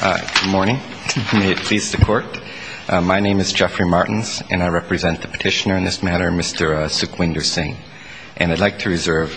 Good morning. May it please the court. My name is Jeffrey Martins, and I represent the petitioner in this matter, Mr. Sukhwinder Singh. And I'd like to reserve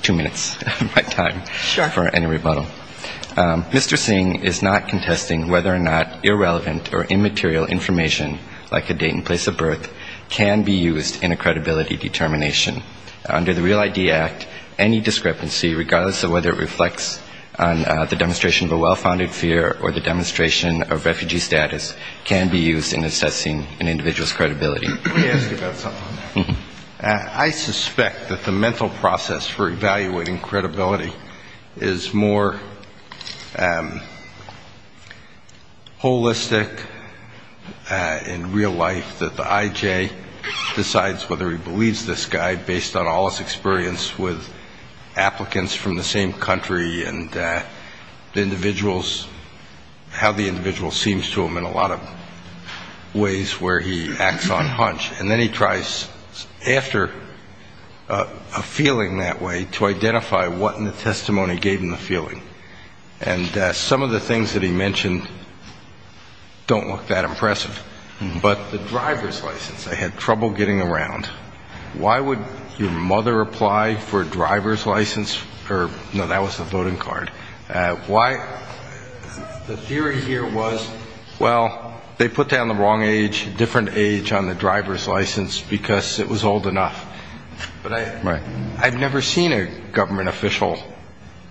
two minutes of my time for any rebuttal. Sure. Mr. Singh is not contesting whether or not irrelevant or immaterial information, like a date and place of birth, can be used in a credibility determination. Under the Real ID Act, any discrepancy, regardless of whether it reflects the demonstration of a well-founded fear or the demonstration of refugee status, can be used in assessing an individual's credibility. Let me ask you about something. I suspect that the mental process for evaluating credibility is more holistic in real life, that the I.J. decides whether he believes this guy based on all his experience with applicants and applicants from the same country and the individuals, how the individual seems to him in a lot of ways where he acts on hunch. And then he tries, after a feeling that way, to identify what in the testimony gave him the feeling. And some of the things that he mentioned don't look that impressive. But the driver's license, they had trouble getting around. Why would your mother apply for no, that was the voting card. The theory here was, well, they put down the wrong age, different age on the driver's license because it was old enough. But I've never seen a government official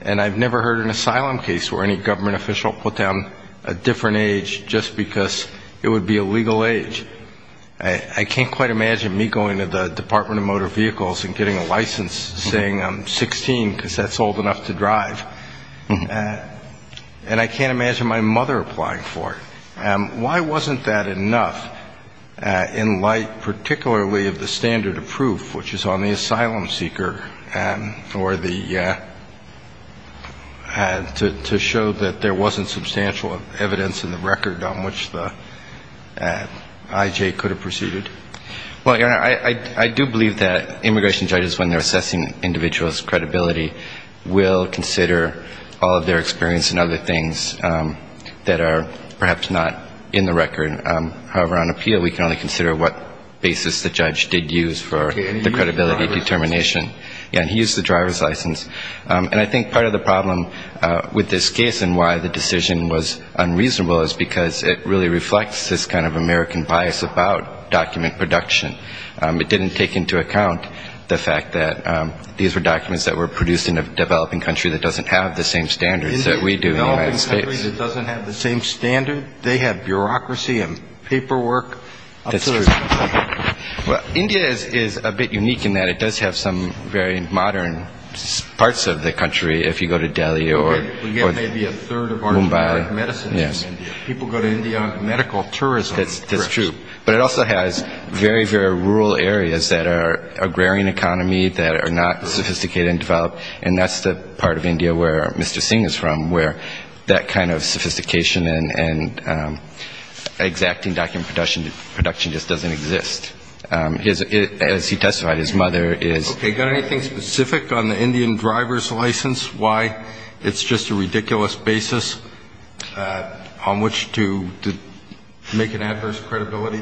and I've never heard an asylum case where any government official put down a different age just because it would be a legal age. I can't quite imagine me going to the Department of Motor Vehicles and getting a license that's old enough to drive. And I can't imagine my mother applying for it. Why wasn't that enough in light particularly of the standard of proof, which is on the asylum seeker or the to show that there wasn't substantial evidence in the record on which the IJ could have proceeded? Well, your Honor, I do believe that immigration judges, when they're assessing individuals' credibility, will consider all of their experience and other things that are perhaps not in the record. However, on appeal we can only consider what basis the judge did use for the credibility determination. And he used the driver's license. And I think part of the problem with this case and why the decision was made was that it didn't take into account the fact that these were documents that were produced in a developing country that doesn't have the same standards that we do in the United States. In a developing country that doesn't have the same standard? They have bureaucracy and paperwork? That's true. India is a bit unique in that it does have some very modern parts of the country, if you go to Delhi or Mumbai. People go to India on medical tourism. That's true. But it also has very, very rural areas that are agrarian economy, that are not sophisticated and developed. And that's the part of India where Mr. Singh is from, where that kind of sophistication and exacting document production just doesn't exist. As he testified, his mother is. Okay. Got anything specific on the Indian driver's license, why it's just a ridiculous basis? On which to make an adverse credibility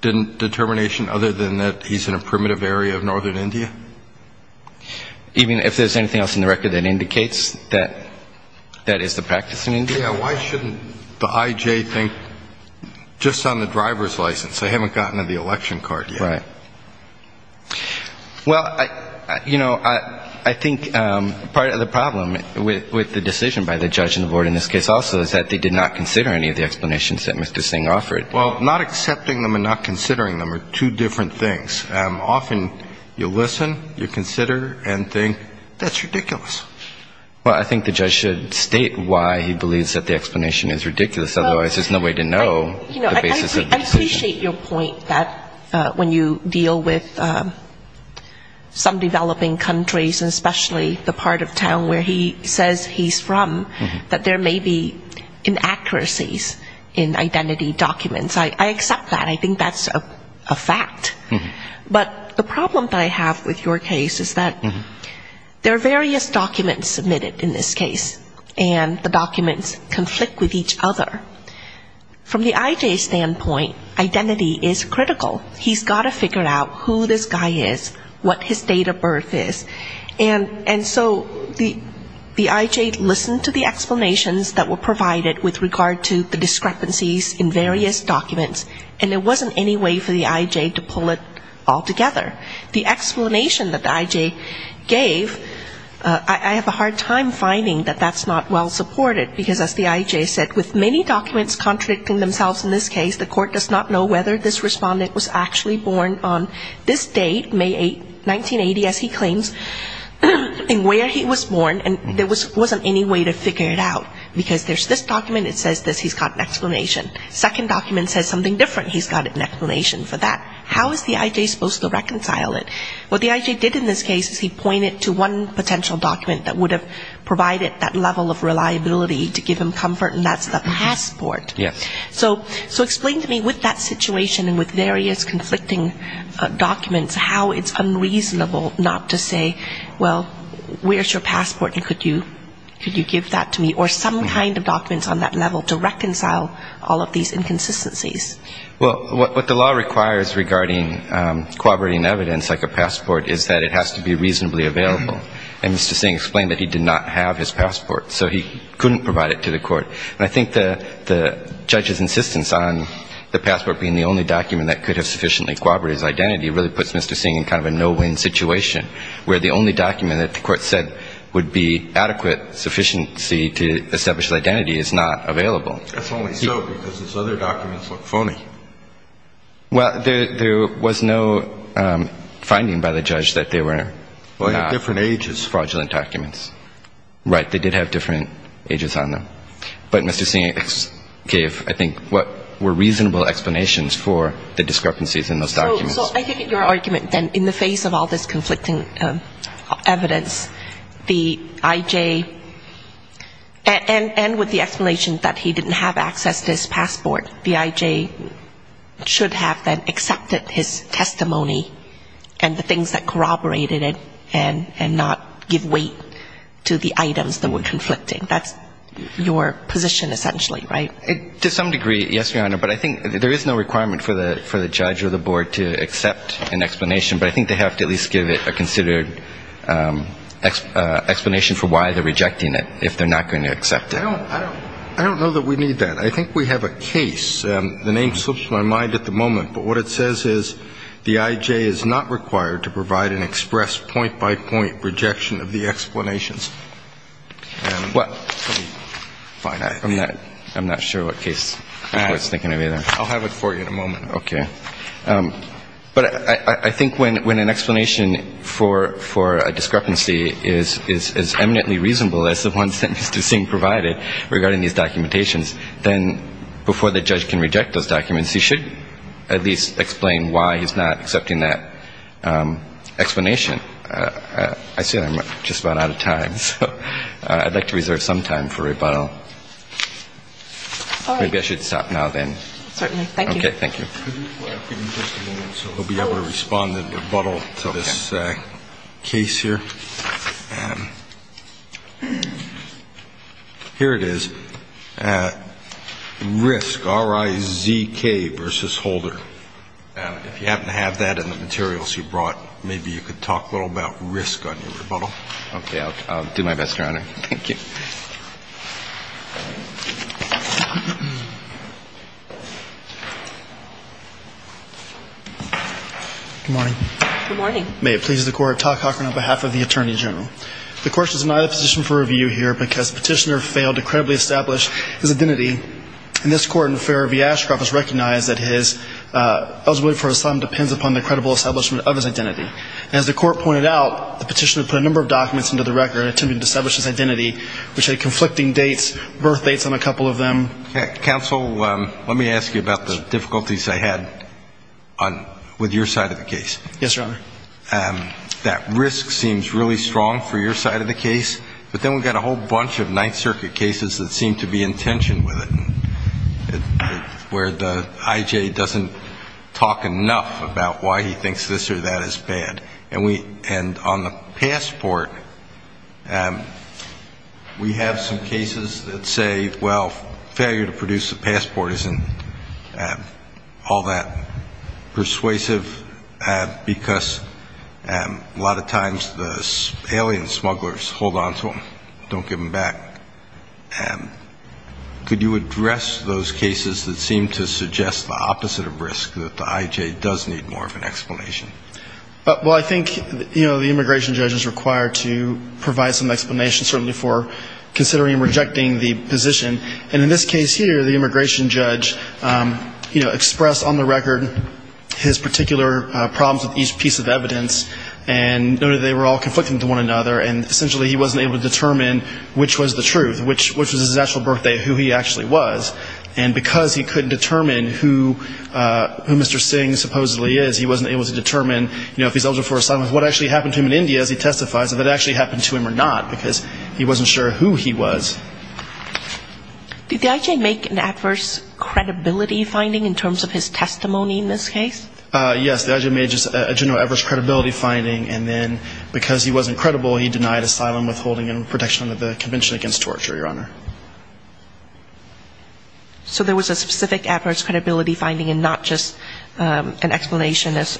determination other than that he's in a primitive area of northern India? Even if there's anything else in the record that indicates that that is the practice in India? Yeah. Why shouldn't the IJ think just on the driver's license, they haven't gotten to the election card yet? Right. Well, you know, I think part of the problem with the decision by the judge and the board in this case is that it's not considered any of the explanations that Mr. Singh offered. Well, not accepting them and not considering them are two different things. Often you listen, you consider and think, that's ridiculous. Well, I think the judge should state why he believes that the explanation is ridiculous, otherwise there's no way to know the basis of the decision. I appreciate your point that when you deal with some developing countries and especially the part of town where he says he's from, that there may be inaccuracies in identity documents. I accept that. I think that's a fact. But the problem that I have with your case is that there are various documents submitted in this case. And the documents conflict with each other. From the IJ's standpoint, identity is critical. He's got to figure out who this guy is, what his date of birth is. And so the IJ listened to the explanations that were provided with regard to the discrepancies in various documents, and there wasn't any way for the IJ to pull it all together. The explanation that the IJ gave, I have a hard time finding that that's not well supported, because as the IJ said, with many documents contradicting themselves in this case, the court does not know whether this respondent was actually born on this date, May 8, 1980, as he claims, and where he was born, and there wasn't any way to figure it out. Because there's this document, it says this, he's got an explanation. Second document says something different, he's got an explanation for that. How is the IJ supposed to reconcile it? What the IJ did in this case is he pointed to one potential document that would have provided that level of reliability to give him comfort, and that's the passport. So explain to me, with that situation and with various conflicting documents, how it's unreasonable not to say, well, where's your passport, and could you give that to me, or some kind of documents on that level to reconcile all of these inconsistencies. Well, what the law requires regarding corroborating evidence like a passport is that it has to be reasonably available. And Mr. Singh explained that he did not have his passport, so he couldn't provide it to the court. And I think the judge's insistence on the passport being the only document that could have sufficiently corroborated his identity really puts Mr. Singh in kind of a no-win situation, where the only document that the court said would be adequate sufficiency to establish his identity is not available. That's only so because his other documents look phony. Well, there was no finding by the judge that they were not fraudulent documents. Right. They did have different ages on them. But Mr. Singh gave, I think, what were reasonable explanations for the discrepancies in those documents. So I think your argument, then, in the face of all this conflicting evidence, the I.J. and with the explanation that he didn't have access to his passport, the I.J. should have then accepted his testimony and the things that corroborated it and not give weight to the items that were conflicting. That's your position, essentially, right? To some degree, yes, Your Honor. But I think there is no requirement for the judge or the board to accept an explanation. But I think they have to at least give it a considered explanation for why they're rejecting it, if they're not going to accept it. I don't know that we need that. I think we have a case. The name slips my mind at the moment. But what it says is the I.J. is not required to provide an express point-by-point rejection of the explanation. I'm not sure what case the board is thinking of either. I'll have it for you in a moment. Okay. But I think when an explanation for a discrepancy is eminently reasonable as the one that Mr. Singh provided regarding these documentations, then before the judge can reject those documents, he should at least explain why he's not accepting that explanation. So I'd like to reserve some time for rebuttal. Maybe I should stop now, then. Certainly. Thank you. Okay. Thank you. We'll be able to respond in rebuttal to this case here. Here it is. Risk, R-I-Z-K versus Holder. If you happen to have that in the materials you brought, maybe you could talk a little about risk on your rebuttal. I'll do my best, Your Honor. Thank you. Good morning. Good morning. May it please the Court, Todd Cochran on behalf of the Attorney General. The Court has denied the petition for review here because the petitioner failed to credibly establish his identity. And this Court in the Fairview-Ashcroft has recognized that his eligibility for asylum depends upon the credible establishment of his identity. And as the Court pointed out, the petitioner put a number of documents into the record attempting to establish his identity, which had conflicting dates, birth dates on a couple of them. Counsel, let me ask you about the difficulties I had with your side of the case. Yes, Your Honor. That risk seems really strong for your side of the case, but then we've got a whole bunch of Ninth Circuit cases that seem to be in tension with it, where the I.J. doesn't talk enough about why he thinks this or that is bad. And on the passport, we have some cases that say, well, failure to produce a passport isn't all that persuasive. Why is that? Because a lot of times the alien smugglers hold on to them, don't give them back. Could you address those cases that seem to suggest the opposite of risk, that the I.J. does need more of an explanation? Well, I think, you know, the immigration judge is required to provide some explanation, certainly for considering rejecting the position. And in this case here, the immigration judge, you know, expressed on the record his particular problems with each piece of evidence, and noted they were all conflicting with one another, and essentially he wasn't able to determine which was the truth, which was his actual birthday, who he actually was. And because he couldn't determine who Mr. Singh supposedly is, he wasn't able to determine, you know, if he's eligible for asylum, what actually happened to him in India, as he testifies, if it actually happened to him or not, because he wasn't sure who he was. Did the I.J. make an adverse credibility finding in terms of his testimony in this case? Yes, the I.J. made just a general adverse credibility finding, and then because he wasn't credible, he denied asylum, withholding protection under the Convention Against Torture, Your Honor. So there was a specific adverse credibility finding, and not just an explanation of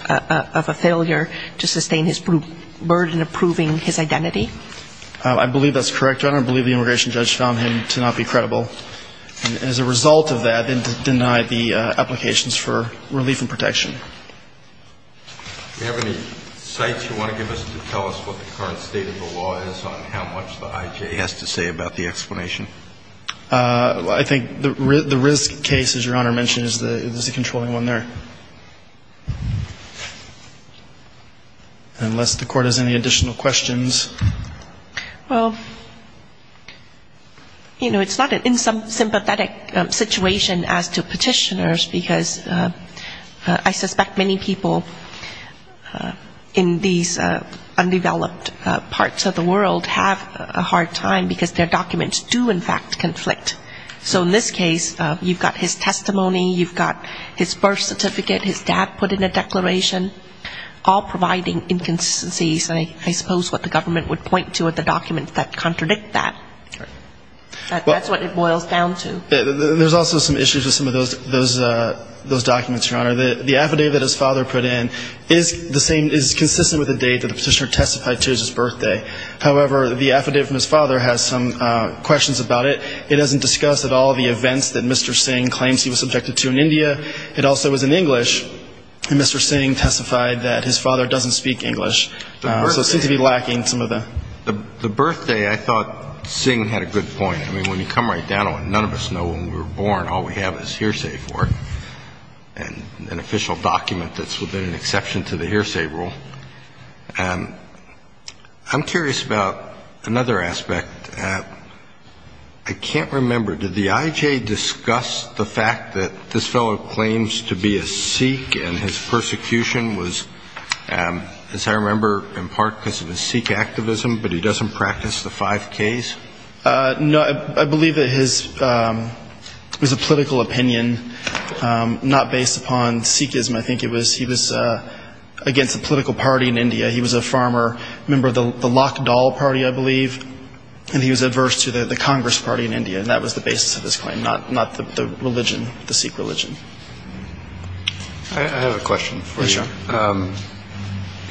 a failure to sustain his burden in approving his identity? I believe that's correct, Your Honor. I believe the immigration judge found him to not be credible. And as a result of that, it denied the applications for relief and protection. Do we have any cites you want to give us to tell us what the current state of the law is on how much the I.J. has to say about the explanation? I think the RISC case, as Your Honor mentioned, is the controlling one there. Unless the Court has any additional questions. Well, you know, it's not in some sympathetic situation as to petitioners, because I suspect many people in these undeveloped parts of the world have a hard time, because their documents do, in fact, conflict. So in this case, you've got his testimony, you've got his birth certificate, his dad put in a declaration, all providing inconsistencies. And I suppose what the government would point to are the documents that contradict that. That's what it boils down to. There's also some issues with some of those documents, Your Honor. The affidavit his father put in is the same, is consistent with the date that the petitioner testified to as his birthday. However, the affidavit from his father has some questions about it. It doesn't discuss at all the events that Mr. Singh claims he was subjected to in India. It also was in English, and Mr. Singh testified that his father doesn't speak English. So it seems to be lacking some of the ---- I'm curious about another aspect. I can't remember, did the IJ discuss the fact that this fellow claims to be a Sikh and his persecution was, as I remember, in part because of his Sikh activism, but he doesn't practice the five Ks? No, I believe that his, it was a political opinion, not based upon Sikhism. I think he was against the political party in India. He was a farmer, a member of the Lakhdal party, I believe, and he was adverse to the Congress party in India, and that was the basis of his claim, not the religion, the Sikh religion. I have a question for you.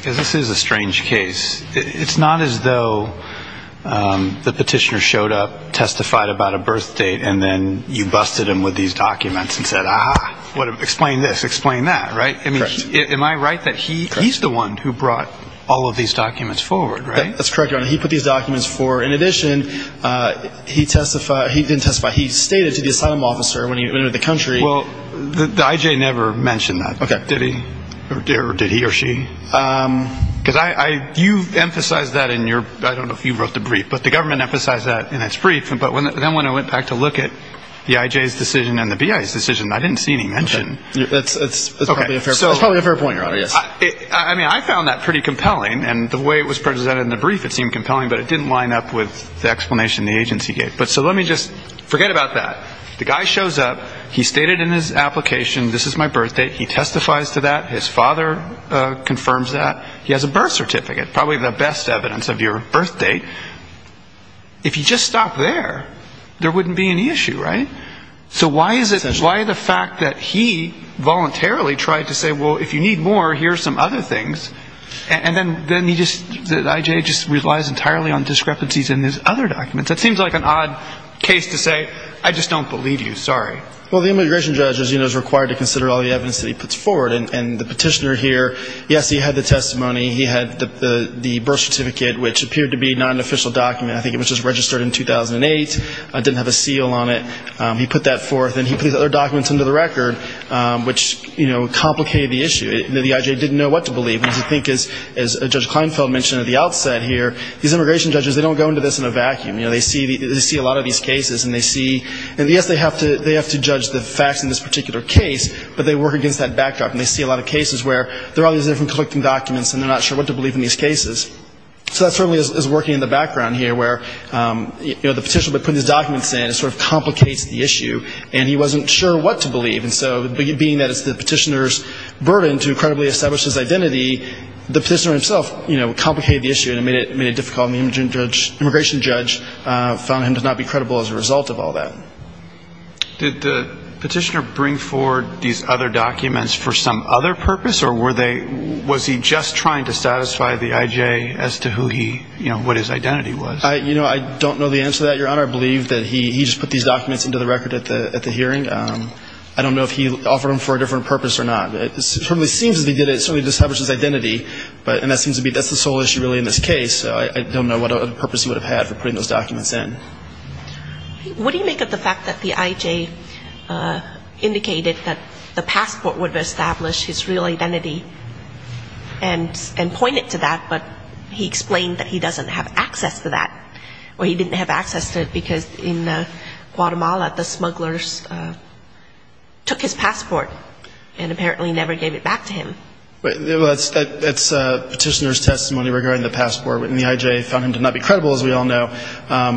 This is a strange case. It's not as though the petitioner showed up, testified about a birth date, and then you busted him with these documents and said, ah, explain this, explain that, right? Am I right that he's the one who brought all of these documents forward, right? That's correct, Your Honor. He put these documents forward. In addition, he testified, he didn't testify, he stated to the asylum officer when he went into the country. Well, the IJ never mentioned that. Did he or did he or she? Because you emphasized that in your, I don't know if you wrote the brief, but the government emphasized that in its brief, but then when I went back to look at the IJ's decision and the BI's decision, I didn't see any mention. It's probably a fair point, Your Honor, yes. I mean, I found that pretty compelling, and the way it was presented in the brief, it seemed compelling, but it didn't line up with the explanation the agency gave. So let me just forget about that. The guy shows up, he stated in his application, this is my birth date, he testifies to that, his father confirms that, he has a birth certificate, probably the best evidence of your birth date. If he just stopped there, there wouldn't be any issue, right? So why the fact that he voluntarily tried to say, well, if you need more, here are some other things, and then he just, the IJ just relies entirely on discrepancies in his other documents. That seems like an odd case to say, I just don't believe you, sorry. Well, the immigration judge, as you know, is required to consider all the evidence that he puts forward, and the petitioner here, yes, he had the testimony, he had the birth certificate, which appeared to be not an official document. I think it was just registered in 2008. It didn't have a seal on it. He put that forth, and he put these other documents under the record, which, you know, complicated the issue. The IJ didn't know what to believe, because I think, as Judge Kleinfeld mentioned at the outset here, these immigration judges, they don't go into this in a vacuum. They see a lot of these cases, and yes, they have to judge the facts in this particular case, but they work against that backdrop, and they see a lot of cases where there are all these different collecting documents, and they're not sure what to believe in these cases. So that certainly is working in the background here, where, you know, the petitioner put these documents in, it sort of complicates the issue, and he wasn't sure what to believe. And so being that it's the petitioner's burden to credibly establish his identity, the petitioner himself, you know, complicated the issue and made it difficult, and the immigration judge found him to not be credible as a result of all that. Did the petitioner bring forward these other documents for some other purpose, or were they ñ was he just trying to satisfy the IJ as to who he, you know, what his identity was? You know, I don't know the answer to that, Your Honor. I believe that he just put these documents into the record at the hearing. I don't know if he offered them for a different purpose or not. It certainly seems as if he did it, it certainly establishes his identity, and that seems to be ñ that's the sole issue, really, in this case. I don't know what other purpose he would have had for putting those documents in. What do you make of the fact that the IJ indicated that the passport would establish his real identity and point it to that, but he explained that he doesn't have access to that, or he didn't have access to it because in Guatemala the smugglers took his passport and apparently never gave it back to him? Well, that's petitioner's testimony regarding the passport, and the IJ found him to not be credible, as we all know.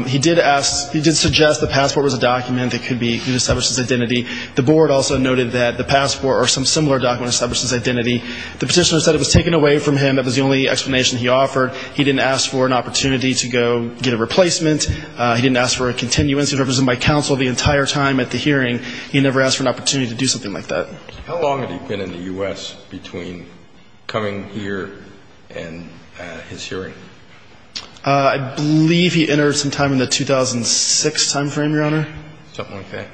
He did ask ñ he did suggest the passport was a document that could establish his identity. The board also noted that the passport or some similar document established his identity. The petitioner said it was taken away from him. That was the only explanation he offered. He didn't ask for an opportunity to go get a replacement. He didn't ask for a continuance. He was represented by counsel the entire time at the hearing. He never asked for an opportunity to do something like that. How long had he been in the U.S. between coming here and his hearing? I believe he entered sometime in the 2006 time frame, Your Honor. Something like that.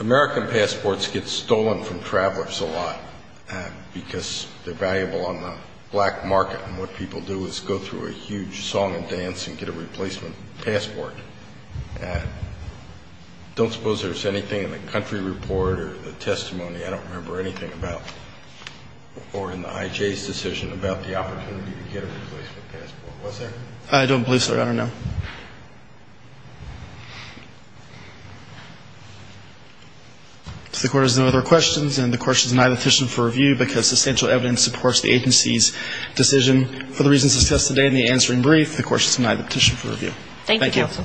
American passports get stolen from travelers a lot because they're valuable on the black market, and what people do is go through a huge song and dance and get a replacement passport. I don't suppose there's anything in the country report or the testimony ñ or in the I.J.'s decision about the opportunity to get a replacement passport. Was there? I don't believe so, Your Honor, no. If the court has no other questions, and the court should deny the petition for review because substantial evidence supports the agency's decision for the reasons discussed today in the answering brief, the court should deny the petition for review. Thank you. Thank you, counsel.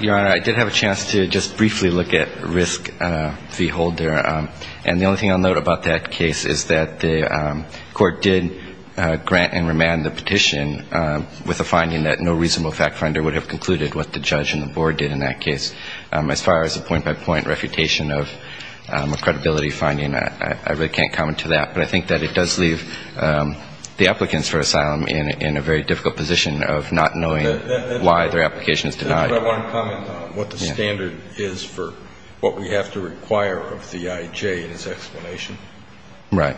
Your Honor, I did have a chance to just briefly look at risk v. Holder, and the only thing I'll note about that case is that the court did grant and remand the petition with a finding that no reasonable fact finder would have concluded what the judge and the board did in that case. As far as a point-by-point refutation of a credibility finding, I really can't comment to that. But I think that it does leave the applicants for asylum in a very difficult position of not knowing why their application is denied. But I want to comment on what the standard is for what we have to require of the I.J. in its explanation. Right.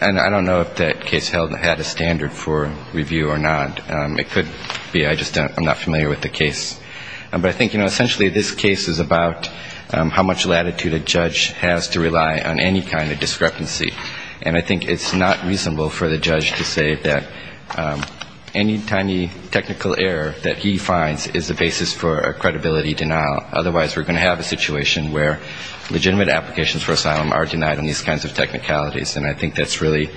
And I don't know if that case had a standard for review or not. It could be. I just am not familiar with the case. But I think, you know, essentially this case is about how much latitude a judge has to rely on any kind of discrepancy. And I think it's not reasonable for the judge to say that any tiny technical error that he finds is the basis for a credibility denial. Otherwise, we're going to have a situation where legitimate applications for asylum are denied on these kinds of technicalities. And I think that's really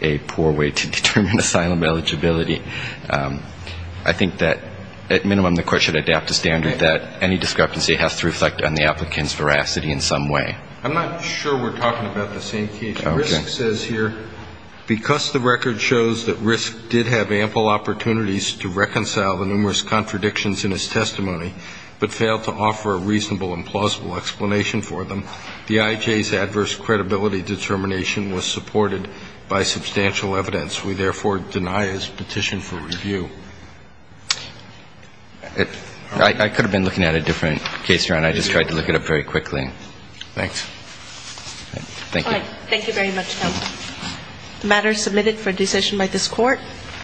a poor way to determine asylum eligibility. I think that at minimum the court should adapt a standard that any discrepancy has to reflect on the applicant's veracity in some way. I'm not sure we're talking about the same case. Okay. RISC says here, because the record shows that RISC did have ample opportunities to reconcile the numerous contradictions in his testimony, but failed to offer a reasonable and plausible explanation for them, the I.J.'s adverse credibility determination We therefore deny his petition for review. I could have been looking at a different case, Ron. I just tried to look it up very quickly. Thanks. Thank you. All right. Thank you very much, Tom. The matter is submitted for decision by this court.